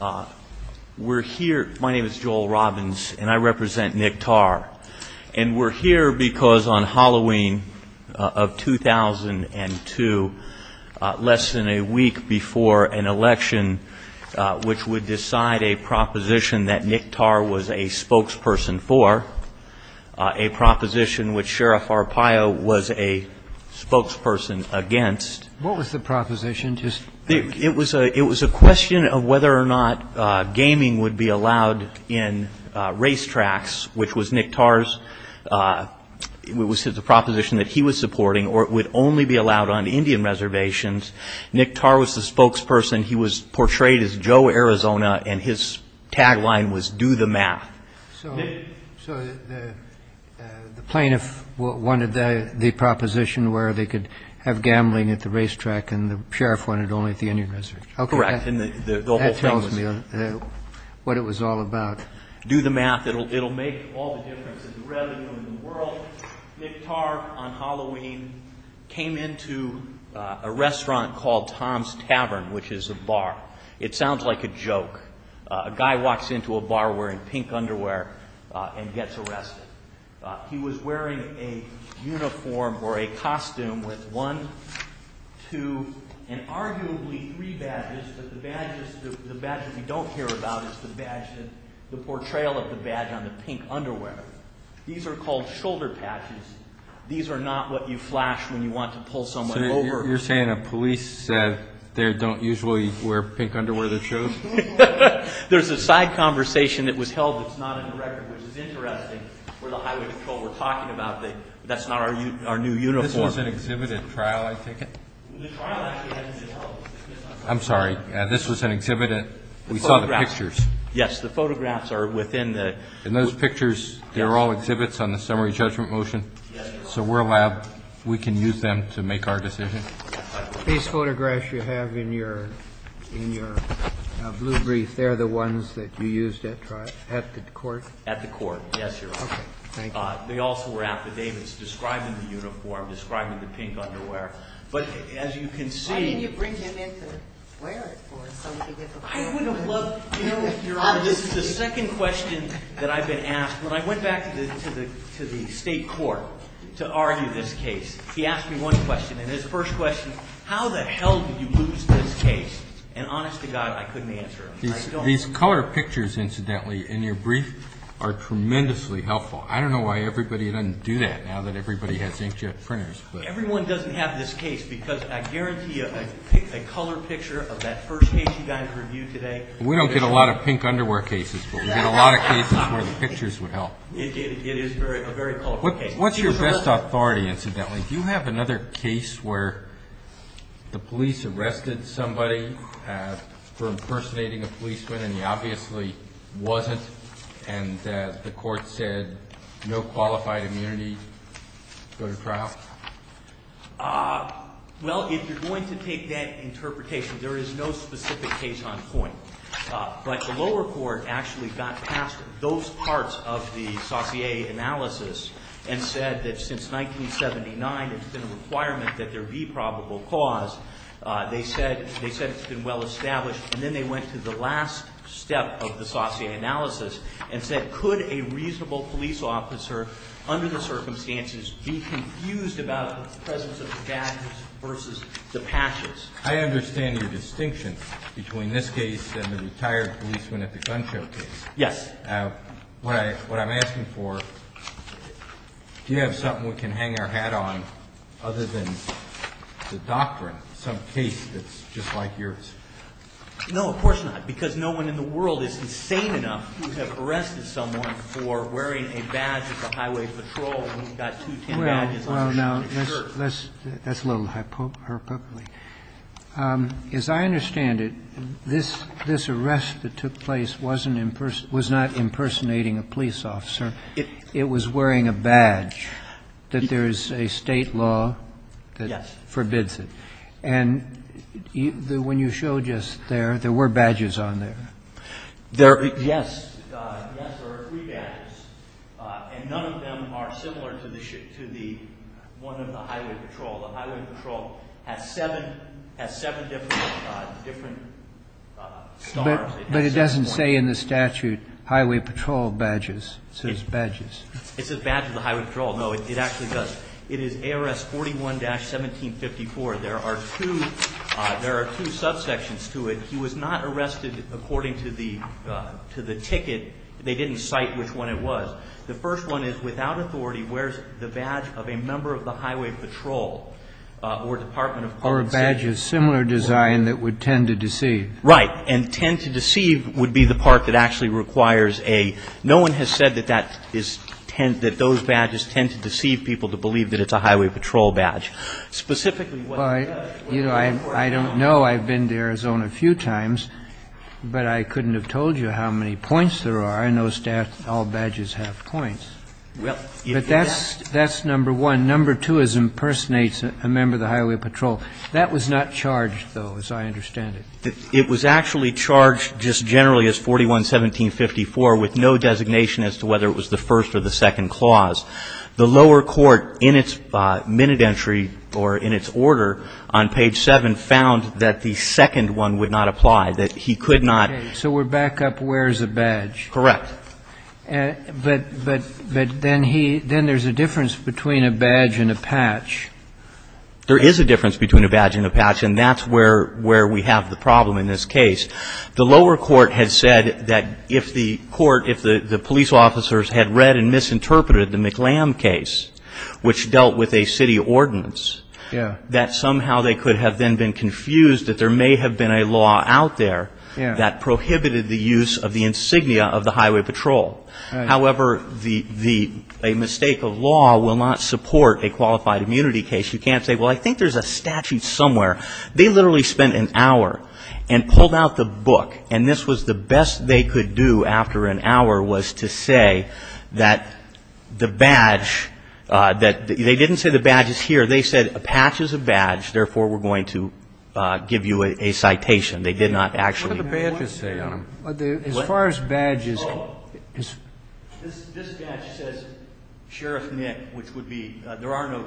My name is Joel Robbins and I represent Nick Tarr. And we're here because on Halloween of 2002, less than a week before an election, which would decide a proposition that Nick Tarr was a spokesperson for, a proposition which Sheriff Arpaio was a spokesperson against. What was the proposition? It was a question of whether or not gaming would be allowed in racetracks, which was Nick Tarr's proposition that he was supporting, or it would only be allowed on Indian reservations. Nick Tarr was the spokesperson. He was portrayed as Joe Arizona, and his tagline was, do the math. So the plaintiff wanted the proposition where they could have gambling at the racetrack and the sheriff wanted only at the Indian reservation. Correct. And the whole thing was... That tells me what it was all about. Do the math. It will make all the difference in the revenue in the world. Nick Tarr, on Halloween, came into a restaurant called Tom's Tavern, which is a bar. It sounds like a joke. A guy walks into a bar wearing pink underwear and gets arrested. He was wearing a uniform or a costume with one, two, and arguably three badges, but the badge that we don't hear about is the portrayal of the badge on the pink underwear. These are called shoulder patches. These are not what you flash when you want to pull someone over. So you're saying the police there don't usually wear pink underwear to shows? There's a side conversation that was held that's not in the record, which is interesting for the highway patrol we're talking about. That's not our new uniform. This was an exhibit at trial, I think. The trial actually hasn't been held. I'm sorry. This was an exhibit at... We saw the pictures. Yes, the photographs are within the... And those pictures, they're all exhibits on the summary judgment motion? Yes. So we're allowed, we can use them to make our decision? These photographs you have in your blue brief, they're the ones that you used at the court? At the court, yes, Your Honor. They also were affidavits describing the uniform, describing the pink underwear. But as you can see... Why didn't you bring him in to wear it? I would have loved... You know, Your Honor, this is the second question that I've been asked. When I went back to the state court to argue this case, he asked me one question, and his first question, how the hell did you lose this case? And honest to God, I couldn't answer him. These color pictures, incidentally, in your brief are tremendously helpful. I don't know why everybody doesn't do that now that everybody has inkjet printers. Everyone doesn't have this case because I guarantee you, a color picture of that first case you guys reviewed today... We don't get a lot of pink underwear cases, but we get a lot of cases where the pictures would help. It is a very colorful case. What's your best authority, incidentally? Do you have another case where the police arrested somebody for impersonating a policeman, and he obviously wasn't, and the court said no qualified immunity, go to trial? Well, if you're going to take that interpretation, there is no specific case on point. But the lower court actually got past those parts of the Saussure analysis and said that since 1979 it's been a requirement that there be probable cause. They said it's been well established, and then they went to the last step of the Saussure analysis and said could a reasonable police officer, under the circumstances, be confused about the presence of the badges versus the patches? I understand your distinction between this case and the retired policeman at the gun show case. Yes. What I'm asking for, do you have something we can hang our hat on other than the doctrine of some case that's just like yours? No, of course not, because no one in the world is insane enough to have arrested someone for wearing a badge at the highway patrol when you've got two tin badges on a shirt. That's a little hyperbole. As I understand it, this arrest that took place was not impersonating a police officer. It was wearing a badge that there is a state law that forbids it. Yes. And when you showed us there, there were badges on there. Yes. Yes, there are three badges, and none of them are similar to the one of the highway patrol. The highway patrol has seven different stars. But it doesn't say in the statute highway patrol badges. It says badges. It says badge of the highway patrol. No, it actually does. It is ARS 41-1754. There are two subsections to it. He was not arrested according to the ticket. They didn't cite which one it was. The first one is, if a person without authority wears the badge of a member of the highway patrol or department of public safety. Or a badge of similar design that would tend to deceive. Right. And tend to deceive would be the part that actually requires a no one has said that that is, that those badges tend to deceive people to believe that it's a highway patrol badge. Specifically, what does? Well, you know, I don't know. I've been to Arizona a few times. But I couldn't have told you how many points there are. I know all badges have points. But that's number one. Number two is impersonates a member of the highway patrol. That was not charged, though, as I understand it. It was actually charged just generally as 41-1754 with no designation as to whether it was the first or the second clause. The lower court in its minute entry or in its order on page 7 found that the second one would not apply, that he could not. Okay. So we're back up where's the badge. Correct. But then he, then there's a difference between a badge and a patch. There is a difference between a badge and a patch. And that's where we have the problem in this case. The lower court has said that if the court, if the police officers had read and misinterpreted the McLam case, which dealt with a city ordinance, that somehow they could have then been confused that there may have been a law out there that prohibited the use of the insignia of the highway patrol. However, the, a mistake of law will not support a qualified immunity case. You can't say, well, I think there's a statute somewhere. They literally spent an hour and pulled out the book. And this was the best they could do after an hour was to say that the badge, that they didn't say the badge is here. They said a patch is a badge, therefore, we're going to give you a citation. They did not actually. What do the badges say on them? As far as badges. This badge says Sheriff Nick, which would be, there are no,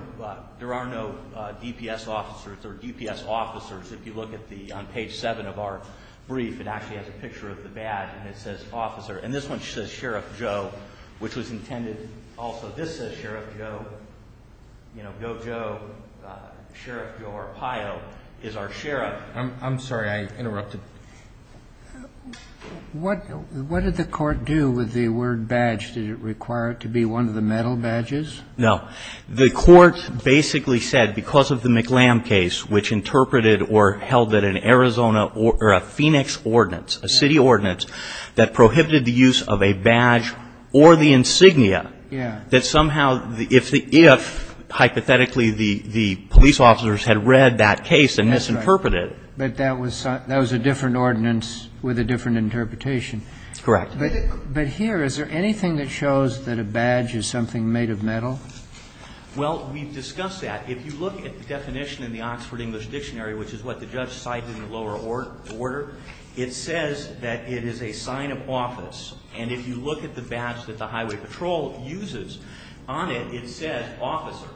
there are no DPS officers or DPS officers. If you look at the, on page seven of our brief, it actually has a picture of the badge and it says officer. And this one says Sheriff Joe, which was intended also. This says Sheriff Joe, you know, go Joe, Sheriff Joe Arpaio is our sheriff. I'm sorry. I interrupted. What, what did the court do with the word badge? Did it require it to be one of the medal badges? No. The court basically said because of the McLamb case, which interpreted or held that an Arizona or a Phoenix ordinance, a city ordinance, that prohibited the use of a badge or the insignia. Yeah. That somehow if the, if hypothetically the, the police officers had read that case and misinterpreted it. But that was, that was a different ordinance with a different interpretation. Correct. But here, is there anything that shows that a badge is something made of metal? Well, we've discussed that. If you look at the definition in the Oxford English Dictionary, which is what the judge cited in the lower order, it says that it is a sign of office. And if you look at the badge that the highway patrol uses on it, it says officer.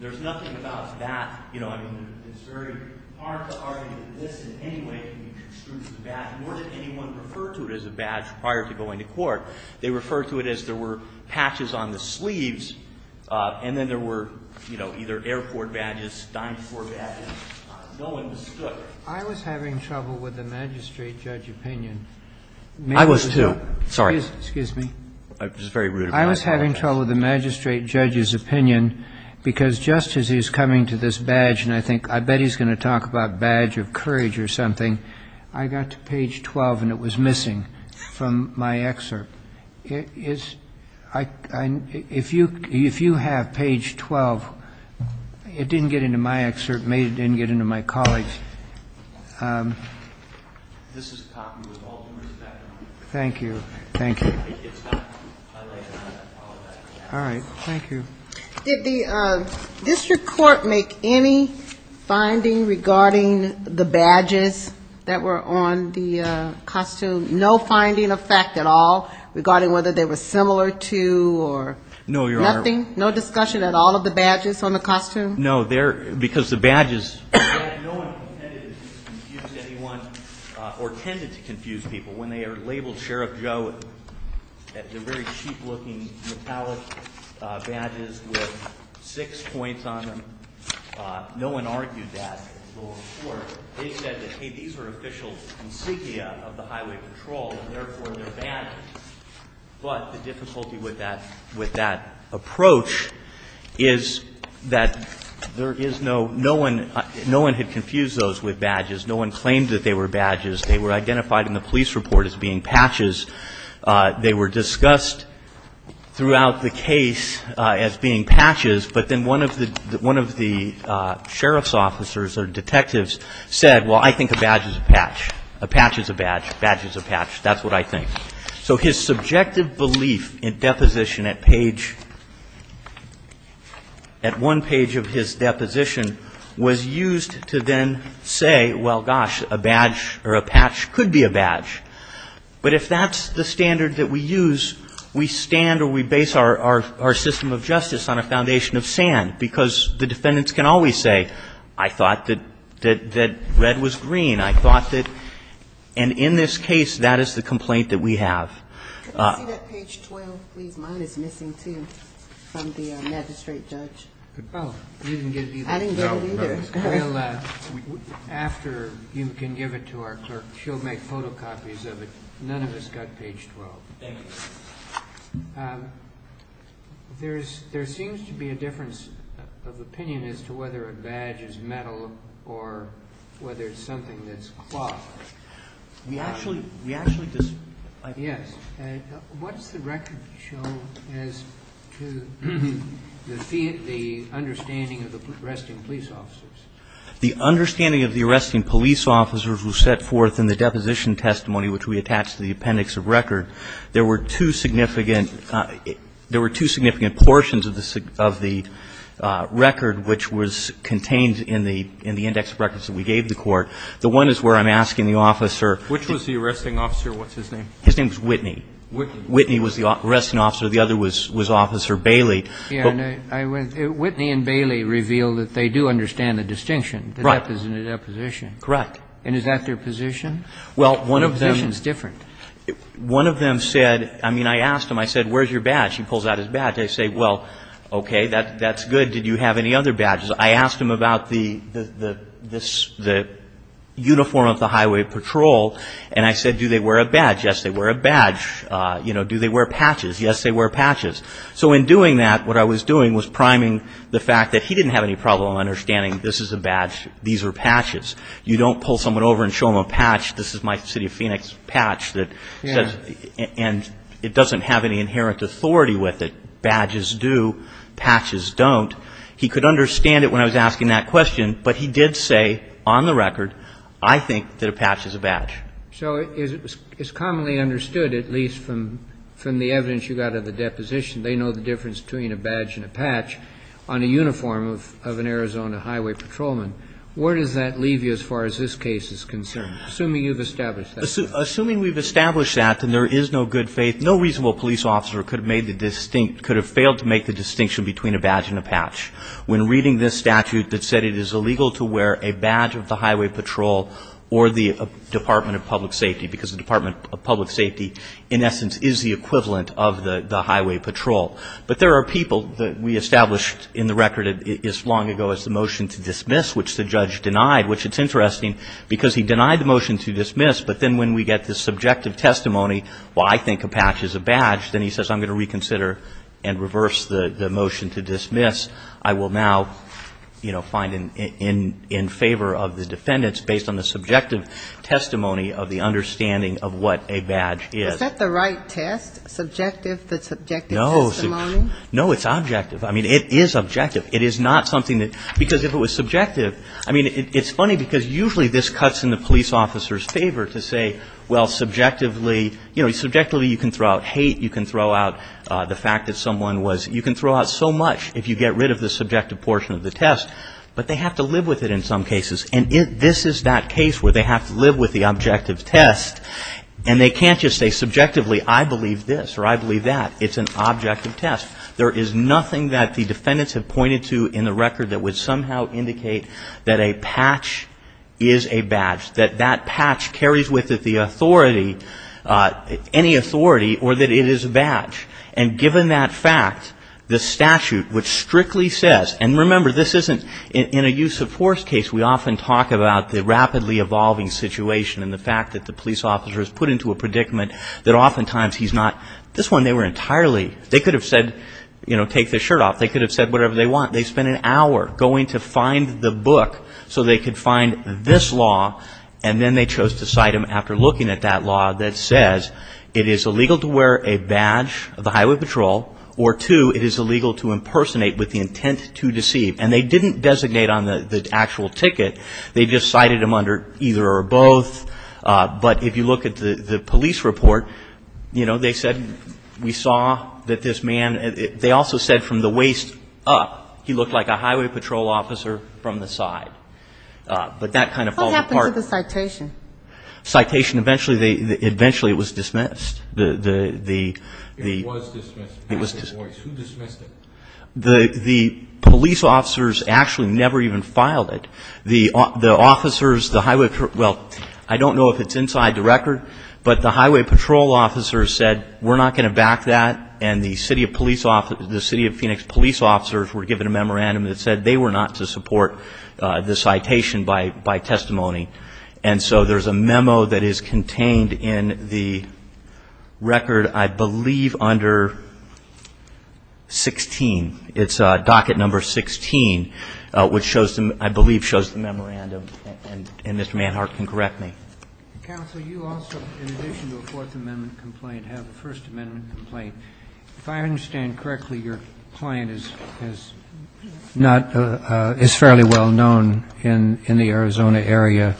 There's nothing about that. You know, I mean, it's very hard to argue that this in any way can be construed as a badge, nor did anyone refer to it as a badge prior to going to court. They referred to it as there were patches on the sleeves, and then there were, you know, either airport badges, dine-for badges. No one understood it. I was having trouble with the magistrate judge's opinion. I was, too. Sorry. Excuse me. It was very rude of me. I was having trouble with the magistrate judge's opinion, because just as he's coming to this badge, and I think I bet he's going to talk about badge of courage or something, I got to page 12, and it was missing from my excerpt. If you have page 12, it didn't get into my excerpt. It didn't get into my colleagues. Thank you. Thank you. All right. Thank you. Did the district court make any finding regarding the badges that were on the costume? No finding of fact at all regarding whether they were similar to or nothing? No, Your Honor. No discussion at all of the badges on the costume? No, because the badges, no one intended to confuse anyone or tended to confuse people when they are labeled Sheriff Joe. They're very cheap-looking, metallic badges with six points on them. No one argued that. They said that, hey, these are official insignia of the Highway Patrol, and therefore they're badges. But the difficulty with that approach is that there is no one, no one had confused those with badges. No one claimed that they were badges. They were identified in the police report as being patches. They were discussed throughout the case as being patches, but then one of the sheriff's officers or detectives said, well, I think a badge is a patch. A patch is a badge. A badge is a patch. That's what I think. So his subjective belief in deposition at page, at one page of his deposition, was used to then say, well, gosh, a badge or a patch could be a badge. But if that's the standard that we use, we stand or we base our system of justice on a foundation of sand, because the defendants can always say, I thought that red was green. I thought that, and in this case, that is the complaint that we have. Can I see that page 12, please? Mine is missing, too, from the magistrate judge. I didn't get it either. After you can give it to our clerk, she'll make photocopies of it. None of us got page 12. Thank you. There seems to be a difference of opinion as to whether a badge is metal or whether it's something that's cloth. We actually disagree. Yes. What does the record show as to the understanding of the arresting police officers? The understanding of the arresting police officers was set forth in the deposition testimony which we attached to the appendix of record. There were two significant portions of the record which was contained in the index of records that we gave the court. The one is where I'm asking the officer. Which was the arresting officer? What's his name? His name is Whitney. Whitney. Whitney was the arresting officer. The other was Officer Bailey. Whitney and Bailey revealed that they do understand the distinction. Right. In the deposition. Correct. And is that their position? Well, one of them. Their position is different. One of them said, I mean, I asked him, I said, where's your badge? He pulls out his badge. I say, well, okay, that's good. Did you have any other badges? I asked him about the uniform of the highway patrol. And I said, do they wear a badge? Yes, they wear a badge. Do they wear patches? Yes, they wear patches. So in doing that, what I was doing was priming the fact that he didn't have any problem understanding this is a badge, these are patches. You don't pull someone over and show them a patch. This is my City of Phoenix patch. And it doesn't have any inherent authority with it. Badges do. Patches don't. He could understand it when I was asking that question. But he did say, on the record, I think that a patch is a badge. So it's commonly understood, at least from the evidence you got of the deposition, they know the difference between a badge and a patch on a uniform of an Arizona highway patrolman. Where does that leave you as far as this case is concerned, assuming you've established that? Assuming we've established that, then there is no good faith. distinction between a badge and a patch. When reading this statute that said it is illegal to wear a badge of the highway patrol or the Department of Public Safety, because the Department of Public Safety, in essence, is the equivalent of the highway patrol. But there are people that we established in the record as long ago as the motion to dismiss, which the judge denied, which it's interesting, because he denied the motion to dismiss. But then when we get the subjective testimony, well, I think a patch is a badge, then he says I'm going to reconsider and reverse the motion to dismiss. I will now, you know, find in favor of the defendants, based on the subjective testimony of the understanding of what a badge is. Is that the right test, subjective, the subjective testimony? No. No, it's objective. I mean, it is objective. It is not something that, because if it was subjective, I mean, it's funny because usually this cuts in the police officer's favor to say, well, subjectively, you know, you can throw out the fact that someone was, you can throw out so much if you get rid of the subjective portion of the test. But they have to live with it in some cases. And this is that case where they have to live with the objective test. And they can't just say subjectively, I believe this or I believe that. It's an objective test. There is nothing that the defendants have pointed to in the record that would somehow indicate that a patch is a badge, that that patch carries with it the authority, any authority, or that it is a badge. And given that fact, the statute, which strictly says, and remember this isn't in a use of force case we often talk about the rapidly evolving situation and the fact that the police officer is put into a predicament that oftentimes he's not. This one they were entirely, they could have said, you know, take the shirt off. They could have said whatever they want. They spent an hour going to find the book so they could find this law. And then they chose to cite him after looking at that law that says it is illegal to wear a badge of the Highway Patrol or two, it is illegal to impersonate with the intent to deceive. And they didn't designate on the actual ticket. They just cited him under either or both. But if you look at the police report, you know, they said we saw that this man, they also said from the waist up he looked like a Highway Patrol officer from the side. But that kind of falls apart. What happened to the citation? Citation, eventually it was dismissed. It was dismissed. It was dismissed. Who dismissed it? The police officers actually never even filed it. The officers, the Highway, well, I don't know if it's inside the record, but the Highway Patrol officers said we're not going to back that. And the City of Phoenix police officers were given a memorandum that said they were not to support the citation by testimony. And so there's a memo that is contained in the record, I believe, under 16. It's docket number 16, which I believe shows the memorandum. And Mr. Manhart can correct me. Counsel, you also, in addition to a Fourth Amendment complaint, have a First Amendment complaint. If I understand correctly, your client is fairly well known in the Arizona area,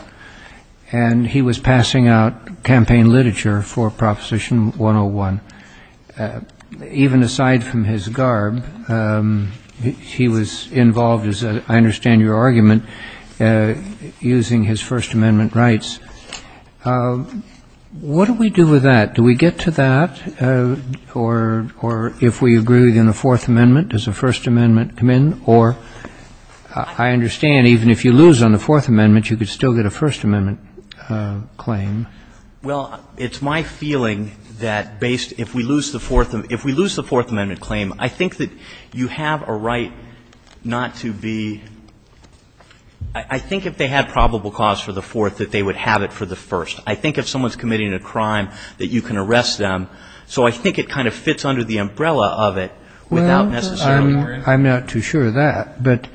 and he was passing out campaign literature for Proposition 101. Even aside from his garb, he was involved, as I understand your argument, using his First Amendment rights. What do we do with that? Do we get to that? Or if we agree within the Fourth Amendment, does a First Amendment come in? Or I understand even if you lose on the Fourth Amendment, you could still get a First Amendment claim. Well, it's my feeling that based — if we lose the Fourth — if we lose the Fourth Amendment claim, I think that you have a right not to be — I think if they had probable cause for the Fourth, that they would have it for the First. I think if someone's committing a crime, that you can arrest them. So I think it kind of fits under the umbrella of it without necessarily worrying. I'm not too sure of that. But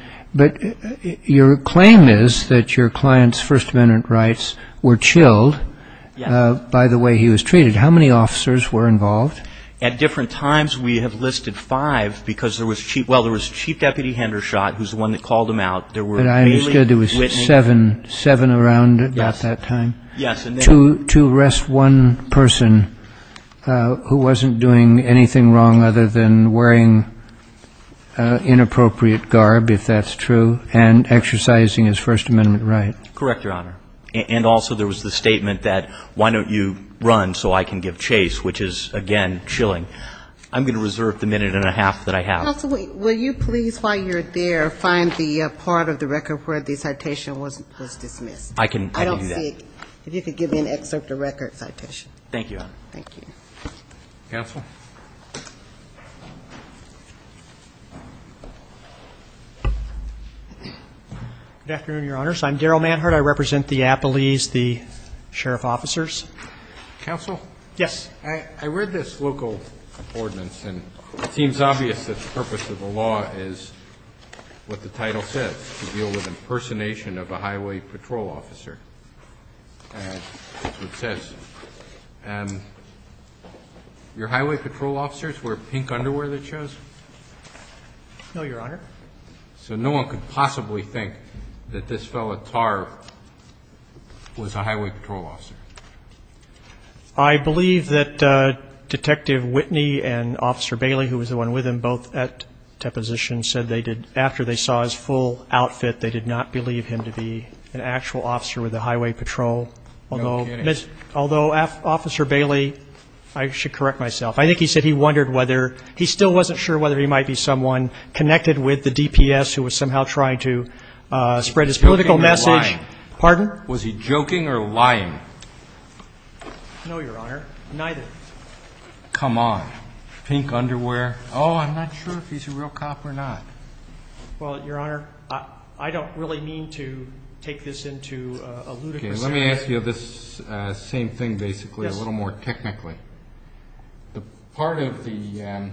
your claim is that your client's First Amendment rights were chilled by the way he was treated. How many officers were involved? At different times, we have listed five because there was — well, there was Chief Deputy Hendershot, who's the one that called him out. There were Bailey, Whitney. But I understood there was seven. Seven around about that time. Yes. To arrest one person who wasn't doing anything wrong other than wearing inappropriate garb, if that's true, and exercising his First Amendment right. Correct, Your Honor. And also there was the statement that, why don't you run so I can give chase, which is, again, chilling. I'm going to reserve the minute and a half that I have. Counsel, will you please, while you're there, find the part of the record where the citation was dismissed? I can do that. I don't see it. If you could give me an excerpt of record citation. Thank you, Your Honor. Thank you. Counsel? Good afternoon, Your Honors. I'm Darrell Manhart. I represent the Appalese, the sheriff officers. Counsel? Yes. I read this local ordinance, and it seems obvious that the purpose of the law is what the title says, to deal with impersonation of a highway patrol officer. That's what it says. Your highway patrol officers wear pink underwear, that shows? No, Your Honor. So no one could possibly think that this fellow, Tar, was a highway patrol officer? I believe that Detective Whitney and Officer Bailey, who was the one with him both at deposition, said they did, after they saw his full outfit, they did not believe him to be an actual officer with the highway patrol. No kidding. Although Officer Bailey, I should correct myself. I think he said he wondered whether, he still wasn't sure whether he might be someone connected with the DPS who was somehow trying to spread his political message. Was he joking or lying? Pardon? Was he joking or lying? No, Your Honor. Neither. Come on. Pink underwear. Oh, I'm not sure if he's a real cop or not. Well, Your Honor, I don't really mean to take this into a ludicrous way. Let me ask you this same thing, basically, a little more technically. The part of the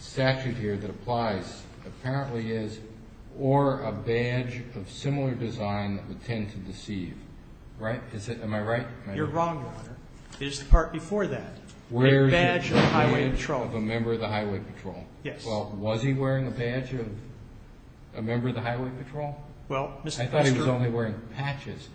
statute here that applies apparently is, or a badge of similar design that would tend to deceive. Right? Am I right? You're wrong, Your Honor. It is the part before that. Where is the badge of a member of the highway patrol? Yes. Well, was he wearing a badge of a member of the highway patrol? I thought he was only wearing patches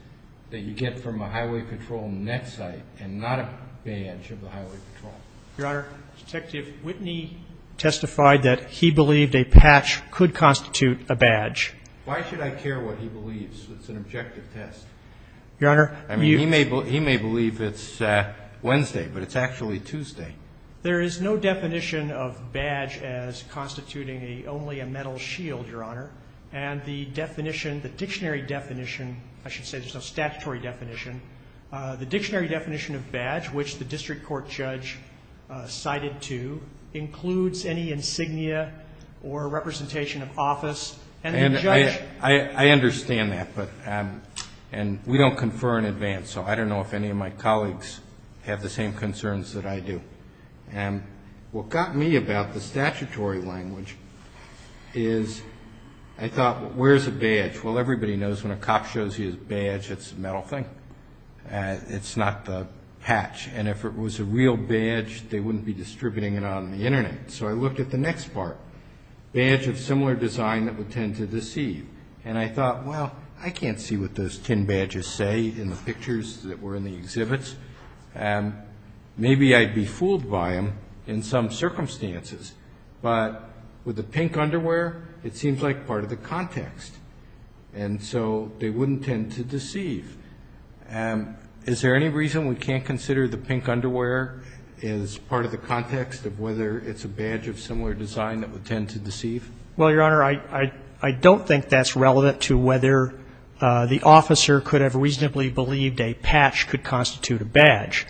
that you get from a highway patrol net site and not a badge of the highway patrol. Your Honor, Detective Whitney testified that he believed a patch could constitute a badge. Why should I care what he believes? It's an objective test. Your Honor. I mean, he may believe it's Wednesday, but it's actually Tuesday. There is no definition of badge as constituting only a metal shield, Your Honor. And the definition, the dictionary definition, I should say there's no statutory definition. The dictionary definition of badge, which the district court judge cited to, includes any insignia or representation of office. I understand that. And we don't confer in advance, so I don't know if any of my colleagues have the same concerns that I do. And what got me about the statutory language is I thought, where's a badge? Well, everybody knows when a cop shows you his badge, it's a metal thing. It's not the patch. And if it was a real badge, they wouldn't be distributing it on the Internet. So I looked at the next part, badge of similar design that would tend to deceive. And I thought, well, I can't see what those tin badges say in the pictures that were in the exhibits. Maybe I'd be fooled by them in some circumstances. But with the pink underwear, it seems like part of the context. And so they wouldn't tend to deceive. Is there any reason we can't consider the pink underwear as part of the context of whether it's a badge of similar design that would tend to deceive? Well, Your Honor, I don't think that's relevant to whether the officer could have reasonably believed a patch could constitute a badge.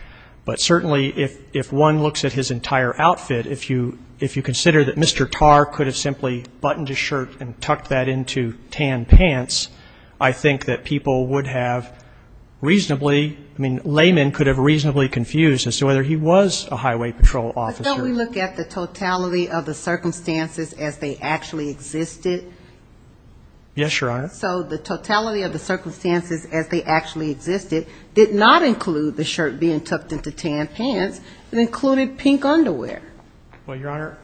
But certainly if one looks at his entire outfit, if you consider that Mr. Tarr could have simply buttoned his shirt and tucked that into tan pants, I think that people would have reasonably, I mean, layman could have reasonably confused as to whether he was a highway patrol officer. But don't we look at the totality of the circumstances as they actually existed? Yes, Your Honor. So the totality of the circumstances as they actually existed did not include the shirt being tucked into tan pants. It included pink underwear. Well, Your Honor,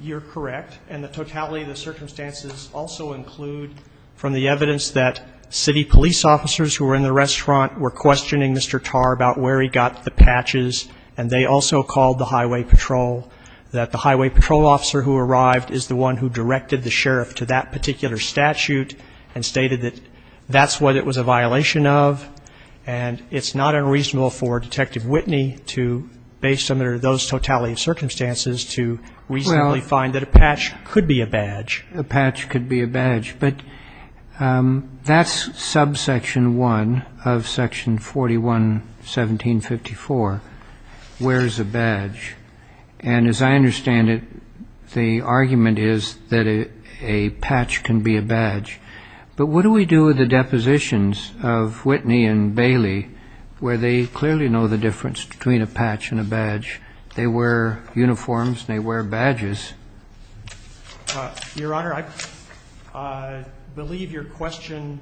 you're correct. And the totality of the circumstances also include from the evidence that city police officers who were in the restaurant were questioning Mr. Tarr about where he got the patches, and they also called the highway patrol, that the highway patrol officer who arrived is the one who directed the sheriff to that particular statute and stated that that's what it was a violation of. And it's not unreasonable for Detective Whitney to, based on those totality of circumstances, to reasonably find that a patch could be a badge. A patch could be a badge. But that's subsection 1 of section 41, 1754, where's a badge. And as I understand it, the argument is that a patch can be a badge. But what do we do with the depositions of Whitney and Bailey where they clearly know the difference between a patch and a badge? They wear uniforms and they wear badges. Your Honor, I believe your question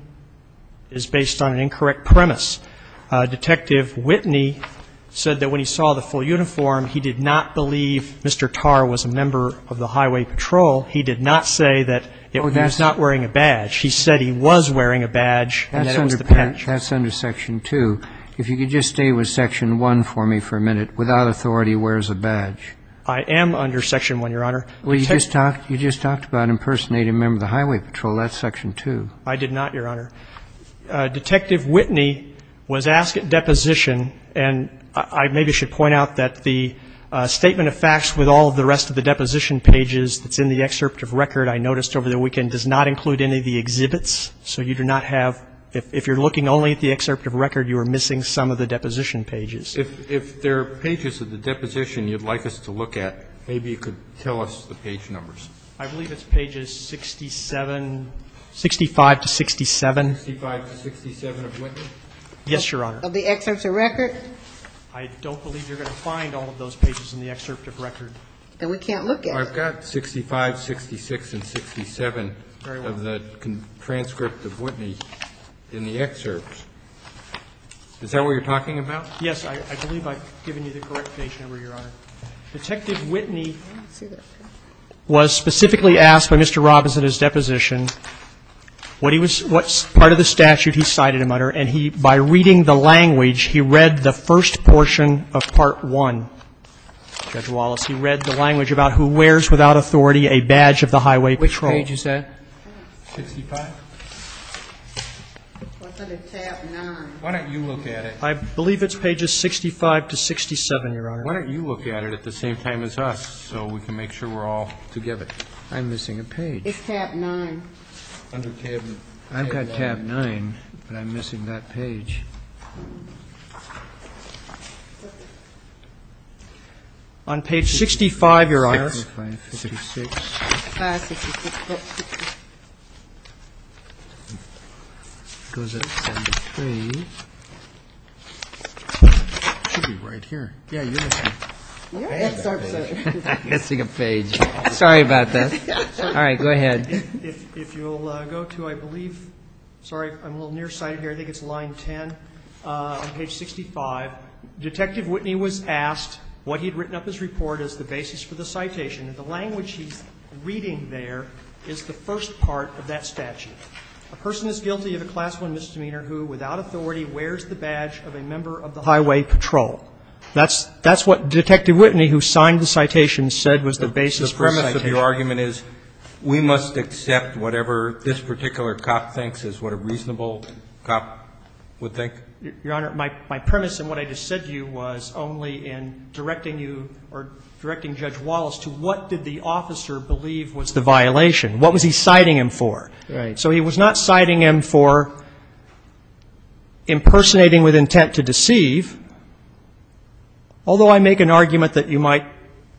is based on an incorrect premise. Detective Whitney said that when he saw the full uniform, he did not believe Mr. Tarr was a member of the highway patrol. He did not say that he was not wearing a badge. He said he was wearing a badge and that it was the patch. That's under section 2. If you could just stay with section 1 for me for a minute. Without authority, where's a badge? I am under section 1, your Honor. Well, you just talked about impersonating a member of the highway patrol. That's section 2. I did not, your Honor. Detective Whitney was asked at deposition, and I maybe should point out that the statement of facts with all of the rest of the deposition pages that's in the excerpt of record I noticed over the weekend does not include any of the exhibits. So you do not have, if you're looking only at the excerpt of record, you are missing some of the deposition pages. If there are pages of the deposition you'd like us to look at, maybe you could tell us the page numbers. I believe it's pages 67, 65 to 67. 65 to 67 of Whitney? Yes, your Honor. Of the excerpts of record? I don't believe you're going to find all of those pages in the excerpt of record. Then we can't look at it. So I've got 65, 66, and 67 of the transcript of Whitney in the excerpt. Is that what you're talking about? Yes. I believe I've given you the correct page number, your Honor. Detective Whitney was specifically asked by Mr. Robbins at his deposition what he was — what part of the statute he cited, and he, by reading the language, he read the first portion of Part I. Judge Wallace, he read the language about who wears without authority a badge of the highway patrol. Which page is that? 65? It's under tab 9. Why don't you look at it? I believe it's pages 65 to 67, your Honor. Why don't you look at it at the same time as us so we can make sure we're all together? I'm missing a page. It's tab 9. I've got tab 9, but I'm missing that page. On page 65, your Honor. 65, 56. It goes at page 3. It should be right here. Yeah, you're missing a page. I'm missing a page. Sorry about that. All right, go ahead. If you'll go to, I believe — sorry, I'm a little nearsighted here. I think it's line 10. On page 65, Detective Whitney was asked what he had written up his report as the basis for the citation. And the language he's reading there is the first part of that statute. A person is guilty of a Class I misdemeanor who, without authority, wears the badge of a member of the highway patrol. That's what Detective Whitney, who signed the citation, said was the basis for the citation. The premise of your argument is we must accept whatever this particular cop thinks is what a reasonable cop would think? Your Honor, my premise in what I just said to you was only in directing you or directing Judge Wallace to what did the officer believe was the violation. What was he citing him for? Right. So he was not citing him for impersonating with intent to deceive. Although I make an argument that you might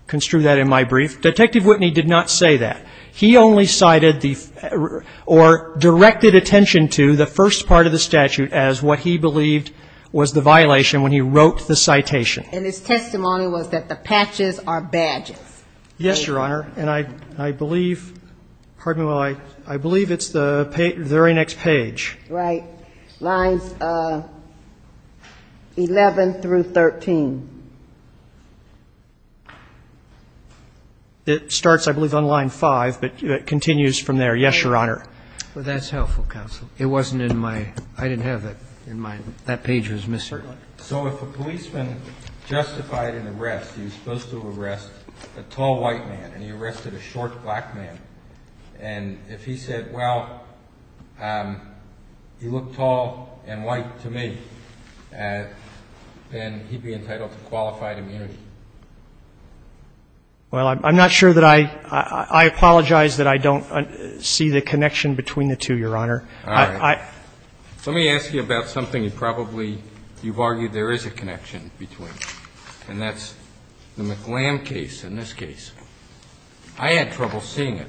construe that in my brief, Detective Whitney did not say that. He only cited the or directed attention to the first part of the statute as what he believed was the violation when he wrote the citation. And his testimony was that the patches are badges. Yes, Your Honor. And I believe, pardon me while I, I believe it's the very next page. Right. Lines 11 through 13. It starts, I believe, on line 5, but it continues from there. Yes, Your Honor. Well, that's helpful, counsel. It wasn't in my, I didn't have that in my, that page was missing. Certainly. So if a policeman justified an arrest, he was supposed to arrest a tall white man and he arrested a short black man, and if he said, well, you look tall and white to me, then he'd be entitled to qualified immunity. Well, I'm not sure that I, I apologize that I don't see the connection between the two, Your Honor. All right. Let me ask you about something you probably, you've argued there is a connection between, and that's the McLam case in this case. I had trouble seeing it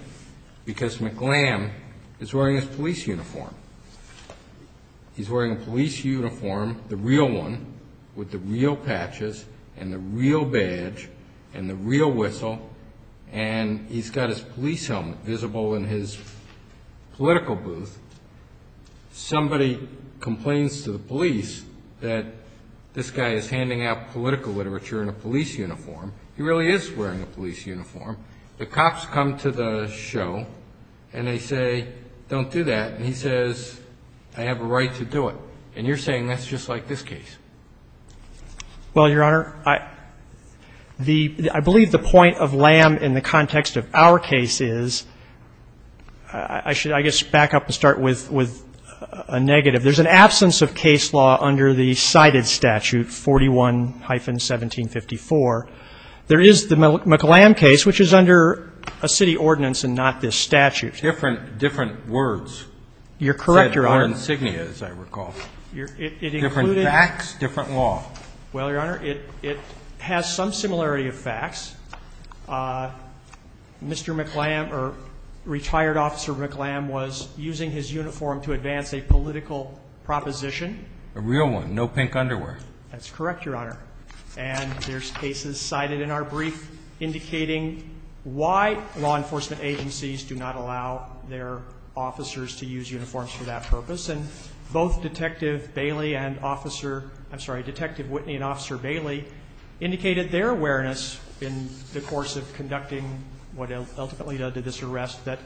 because McLam is wearing his police uniform. He's wearing a police uniform, the real one, with the real patches and the real badge and the real whistle, and he's got his police helmet visible in his political booth. Somebody complains to the police that this guy is handing out political literature in a police uniform. He really is wearing a police uniform. The cops come to the show and they say, don't do that. And he says, I have a right to do it. And you're saying that's just like this case. Well, Your Honor, the, I believe the point of Lam in the context of our case is, I should, I guess, back up and start with a negative. There's an absence of case law under the cited statute, 41-1754. There is the McLam case, which is under a city ordinance and not this statute. Different, different words. You're correct, Your Honor. Different insignia, as I recall. Different facts, different law. Well, Your Honor, it has some similarity of facts. Mr. McLam or retired officer McLam was using his uniform to advance a political proposition. A real one, no pink underwear. That's correct, Your Honor. And there's cases cited in our brief indicating why law enforcement agencies do not allow their officers to use uniforms for that purpose. And both Detective Bailey and Officer, I'm sorry, Detective Whitney and Officer Bailey indicated their awareness in the course of conducting what ultimately led to this arrest, that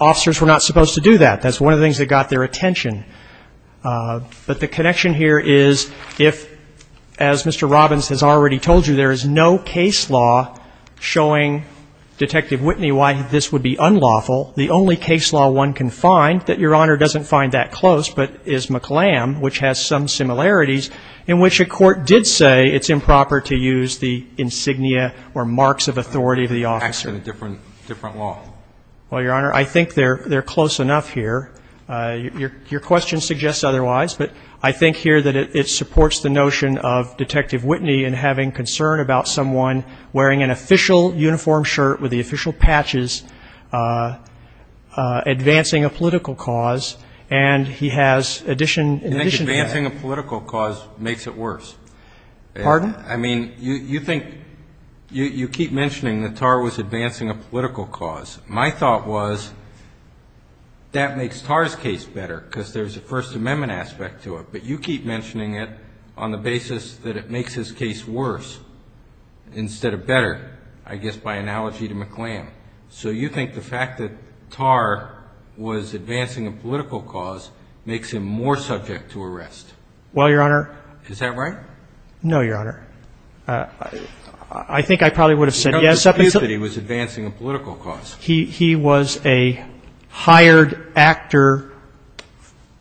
officers were not supposed to do that. That's one of the things that got their attention. But the connection here is if, as Mr. Robbins has already told you, there is no case law showing Detective Whitney why this would be unlawful, the only case law one can find that Your Honor doesn't find that close but is McLam, which has some similarities, in which a court did say it's improper to use the insignia or marks of authority of the officer. Facts and a different law. Well, Your Honor, I think they're close enough here. Your question suggests otherwise, but I think here that it supports the notion of Detective Whitney in having concern about someone wearing an official uniform shirt with the official patches advancing a political cause, and he has addition to that. I think advancing a political cause makes it worse. Pardon? I mean, you think, you keep mentioning that TAR was advancing a political cause. My thought was that makes TAR's case better because there's a First Amendment aspect to it, but you keep mentioning it on the basis that it makes his case worse instead of better, I guess by analogy to McLam. So you think the fact that TAR was advancing a political cause makes him more subject to arrest. Well, Your Honor. Is that right? No, Your Honor. I think I probably would have said yes. Are you disputing that he was advancing a political cause? He was a hired actor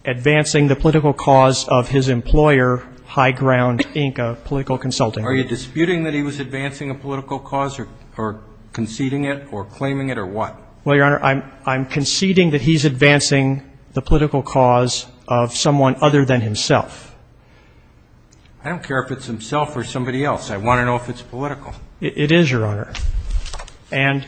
advancing the political cause of his employer, High Ground, Inc., a political consultant. Are you disputing that he was advancing a political cause or conceding it or claiming it or what? Well, Your Honor, I'm conceding that he's advancing the political cause of someone other than himself. I don't care if it's himself or somebody else. I want to know if it's political. It is, Your Honor. And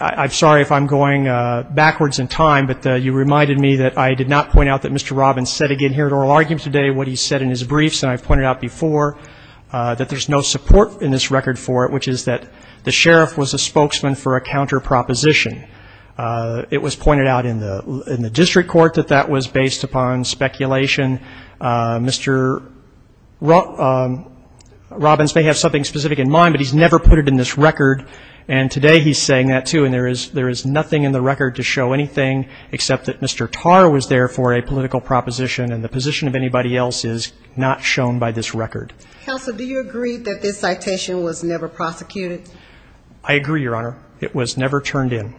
I'm sorry if I'm going backwards in time, but you reminded me that I did not point out that Mr. Robbins said again here at oral argument today what he said in his briefs, and I've pointed out before that there's no support in this record for it, which is that the sheriff was a spokesman for a counter proposition. It was pointed out in the district court that that was based upon speculation. Mr. Robbins may have something specific in mind, but he's never put it in this record, and today he's saying that, too, and there is nothing in the record to show anything except that Mr. Tarr was there for a political proposition, and the position of anybody else is not shown by this record. Counsel, do you agree that this citation was never prosecuted? I agree, Your Honor. It was never turned in.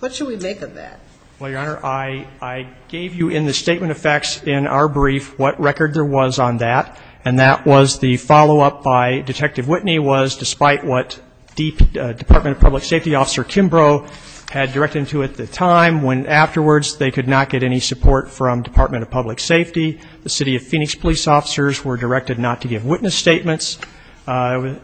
What should we make of that? Well, Your Honor, I gave you in the statement of facts in our brief what record there was on that, and that was the follow-up by Detective Whitney was, despite what Department of Public Safety Officer Kimbrough had directed him to at the time, when afterwards they could not get any support from Department of Public Safety. The city of Phoenix police officers were directed not to give witness statements.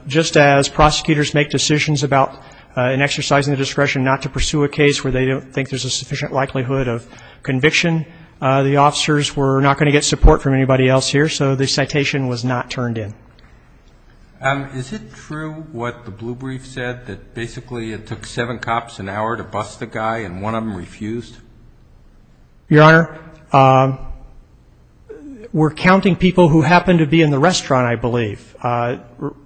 Just as prosecutors make decisions about an exercise in the discretion not to pursue a case where they don't think there's a sufficient likelihood of conviction, the officers were not going to get support from anybody else here, so the citation was not turned in. Is it true what the blue brief said, that basically it took seven cops an hour to bust a guy and one of them refused? Your Honor, we're counting people who happened to be in the restaurant, I believe.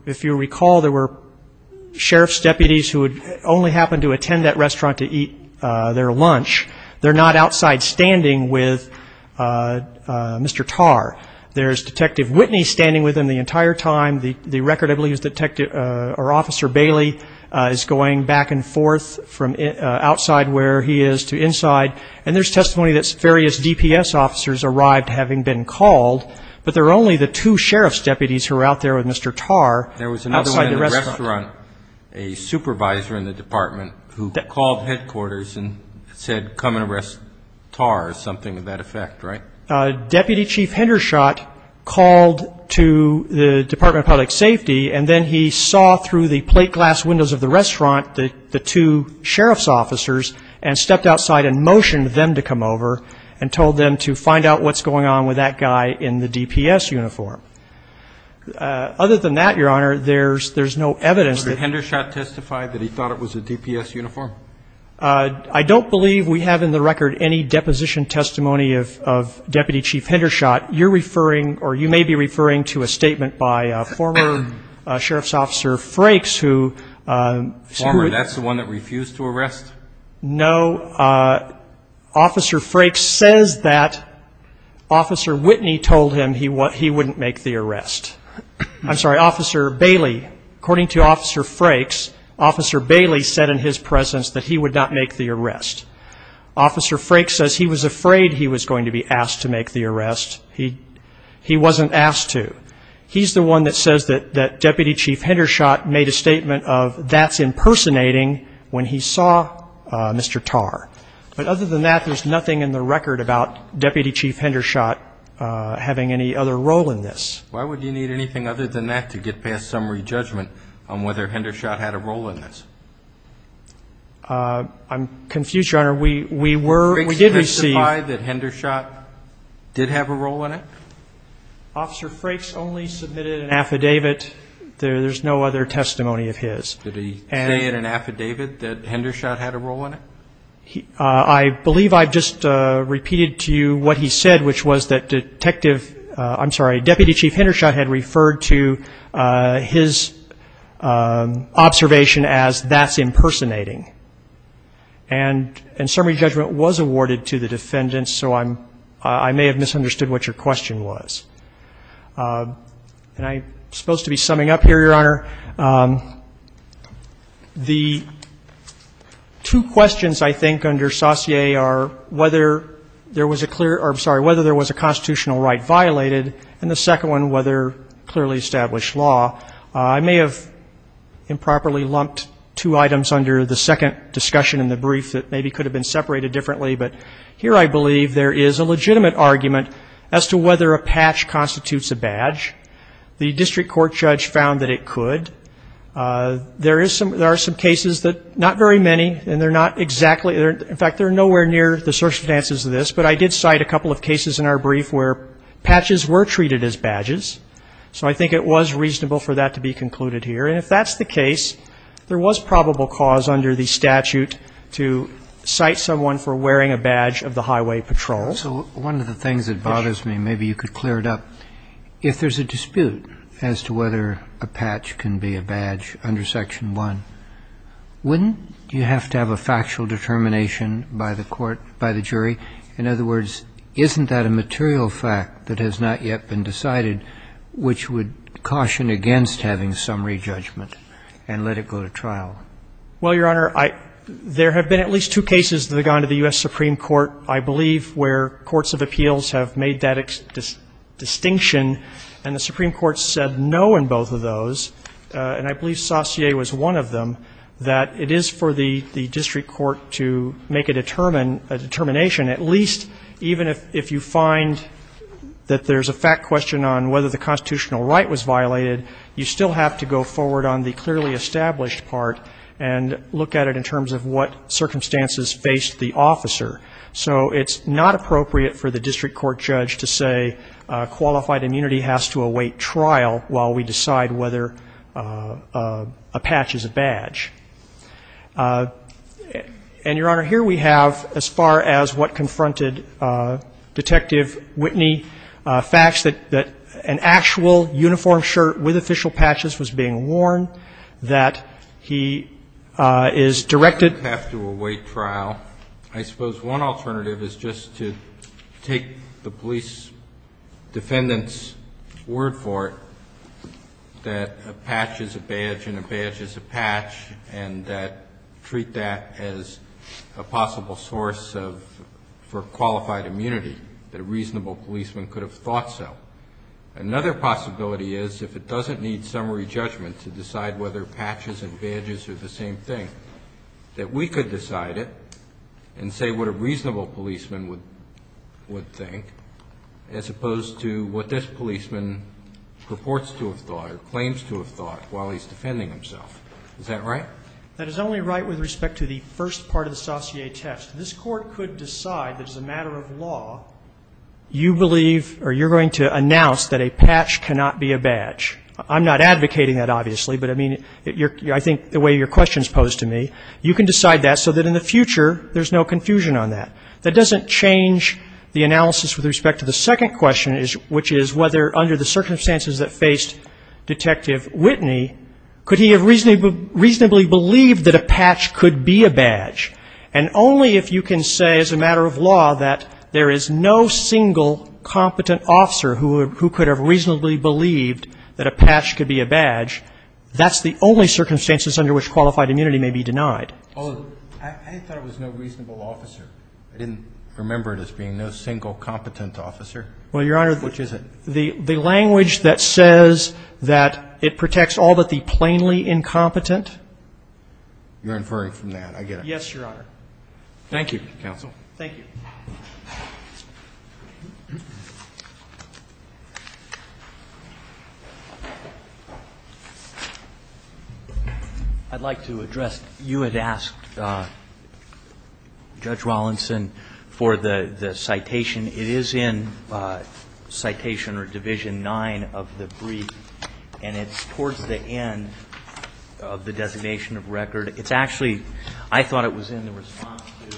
If you recall, there were sheriff's deputies who only happened to attend that restaurant to eat their lunch. They're not outside standing with Mr. Tarr. There's Detective Whitney standing with him the entire time. The record, I believe, is Officer Bailey is going back and forth from outside where he is to inside, and there's testimony that various DPS officers arrived having been called, but there were only the two sheriff's deputies who were out there with Mr. Tarr outside the restaurant. There was another one in the restaurant, a supervisor in the department, who called headquarters and said, come and arrest Tarr, or something of that effect, right? Deputy Chief Hendershot called to the Department of Public Safety, and then he saw through the plate glass windows of the restaurant the two sheriff's officers and stepped outside and motioned them to come over and told them to find out what's going on with that guy in the DPS uniform. Other than that, Your Honor, there's no evidence. Did Hendershot testify that he thought it was a DPS uniform? I don't believe we have in the record any deposition testimony of Deputy Chief Hendershot. You're referring or you may be referring to a statement by a former sheriff's officer, Frakes, who ---- That's the one that refused to arrest? No. Officer Frakes says that Officer Whitney told him he wouldn't make the arrest. I'm sorry, Officer Bailey. According to Officer Frakes, Officer Bailey said in his presence that he would not make the arrest. Officer Frakes says he was afraid he was going to be asked to make the arrest. He wasn't asked to. He's the one that says that Deputy Chief Hendershot made a statement of that's impersonating when he saw Mr. Tarr. But other than that, there's nothing in the record about Deputy Chief Hendershot having any other role in this. Why would you need anything other than that to get past summary judgment on whether Hendershot had a role in this? I'm confused, Your Honor. We were ---- Frakes testified that Hendershot did have a role in it? Officer Frakes only submitted an affidavit. There's no other testimony of his. Did he say in an affidavit that Hendershot had a role in it? I believe I've just repeated to you what he said, which was that Detective ---- I'm sorry, Deputy Chief Hendershot had referred to his observation as that's impersonating. And summary judgment was awarded to the defendants, so I'm ---- I may have misunderstood what your question was. And I'm supposed to be summing up here, Your Honor. The two questions, I think, under Saussure are whether there was a clear ---- I'm sorry, whether there was a constitutional right violated, and the second one, whether clearly established law. I may have improperly lumped two items under the second discussion in the brief that maybe could have been separated differently, but here I believe there is a legitimate argument as to whether a patch constitutes a badge. The district court judge found that it could. There is some ---- there are some cases that not very many, and they're not exactly ---- in fact, they're nowhere near the circumstances of this, but I did cite a couple of cases in our brief where patches were treated as badges. So I think it was reasonable for that to be concluded here. And if that's the case, there was probable cause under the statute to cite someone for wearing a badge of the highway patrol. So one of the things that bothers me, maybe you could clear it up. If there's a dispute as to whether a patch can be a badge under Section 1, wouldn't you have to have a factual determination by the court, by the jury? In other words, isn't that a material fact that has not yet been decided, which would caution against having summary judgment and let it go to trial? Well, Your Honor, there have been at least two cases that have gone to the U.S. Supreme Court, I believe, where courts of appeals have made that distinction, and the Supreme Court said no in both of those. And I believe Saussure was one of them, that it is for the district court to make a determination, at least even if you find that there's a fact question on whether the constitutional right was violated, you still have to go forward on the clearly established part and look at it in terms of what circumstances faced the officer. So it's not appropriate for the district court judge to say qualified immunity has to await trial while we decide whether a patch is a badge. And, Your Honor, here we have, as far as what confronted Detective Whitney, facts that an actual uniform shirt with official patches was being worn, that he is directed to have to await trial. I suppose one alternative is just to take the police defendant's word for it that a patch is a badge and a badge is a patch, and treat that as a possible source for qualified immunity, that a reasonable policeman could have thought so. Another possibility is if it doesn't need summary judgment to decide whether patches and badges are the same thing, that we could decide it and say what a reasonable policeman would think as opposed to what this policeman purports to have thought or claims to have thought while he's defending himself. Is that right? That is only right with respect to the first part of the Saussure test. This Court could decide that as a matter of law, you believe or you're going to announce that a patch cannot be a badge. I'm not advocating that, obviously, but, I mean, I think the way your question is posed to me, you can decide that so that in the future there's no confusion on that. That doesn't change the analysis with respect to the second question, which is whether under the circumstances that faced Detective Whitney, could he have reasonably believed that a patch could be a badge? And only if you can say as a matter of law that there is no single competent officer who could have reasonably believed that a patch could be a badge, that's the only circumstances under which qualified immunity may be denied. I thought it was no reasonable officer. I didn't remember it as being no single competent officer. Well, Your Honor, Which is it? The language that says that it protects all but the plainly incompetent. You're inferring from that. I get it. Yes, Your Honor. Thank you, Counsel. Thank you. I'd like to address, you had asked Judge Wallinson for the citation. It is in citation or division 9 of the brief, and it's towards the end of the designation of record. It's actually, I thought it was in the response to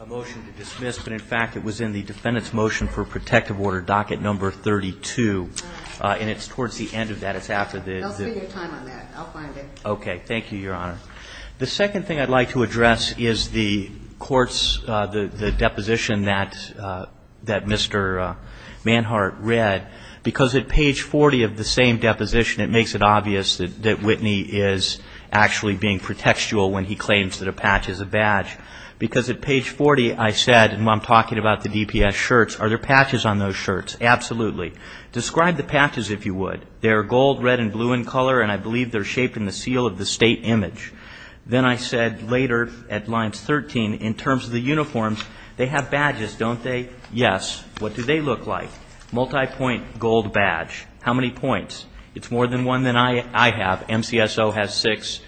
a motion to dismiss, but in fact, it was in the defendant's motion for protective order docket number 32, and it's towards the end of that. It's after the. I'll spend your time on that. I'll find it. Okay. Thank you, Your Honor. The second thing I'd like to address is the court's, the deposition that Mr. Manhart read. Because at page 40 of the same deposition, it makes it obvious that Whitney is actually being pretextual when he claims that a patch is a badge. Because at page 40, I said, and I'm talking about the DPS shirts, are there patches on those shirts? Absolutely. Describe the patches, if you would. They're gold, red, and blue in color, and I believe they're shaped in the seal of the state image. Then I said later at lines 13, in terms of the uniforms, they have badges, don't they? Yes. What do they look like? Multipoint gold badge. How many points? It's more than one than I have. MCSO has six.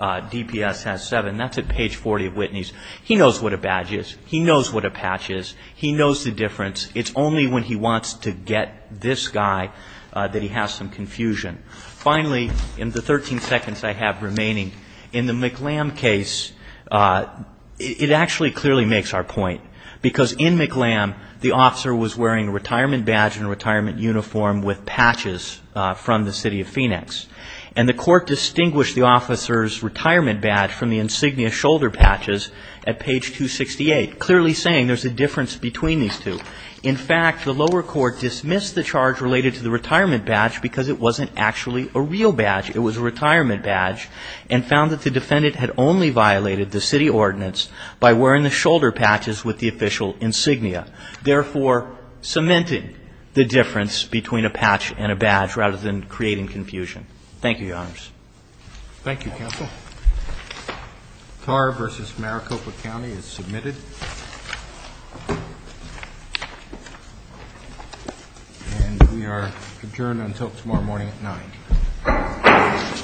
DPS has seven. That's at page 40 of Whitney's. He knows what a badge is. He knows what a patch is. He knows the difference. It's only when he wants to get this guy that he has some confusion. Finally, in the 13 seconds I have remaining, in the McLam case, it actually clearly makes our point. Because in McLam, the officer was wearing a retirement badge and a retirement uniform with patches from the city of Phoenix. And the court distinguished the officer's retirement badge from the insignia shoulder patches at page 268, clearly saying there's a difference between these two. In fact, the lower court dismissed the charge related to the retirement badge because it wasn't actually a real badge. It was a retirement badge and found that the defendant had only violated the city ordinance by wearing the shoulder patches with the official insignia, therefore cementing the difference between a patch and a badge rather than creating confusion. Thank you, Counsel. Tar versus Maricopa County is submitted. And we are adjourned until tomorrow morning at 9. All rise.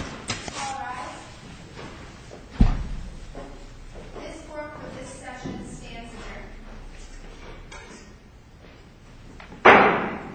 This court for this session stands adjourned.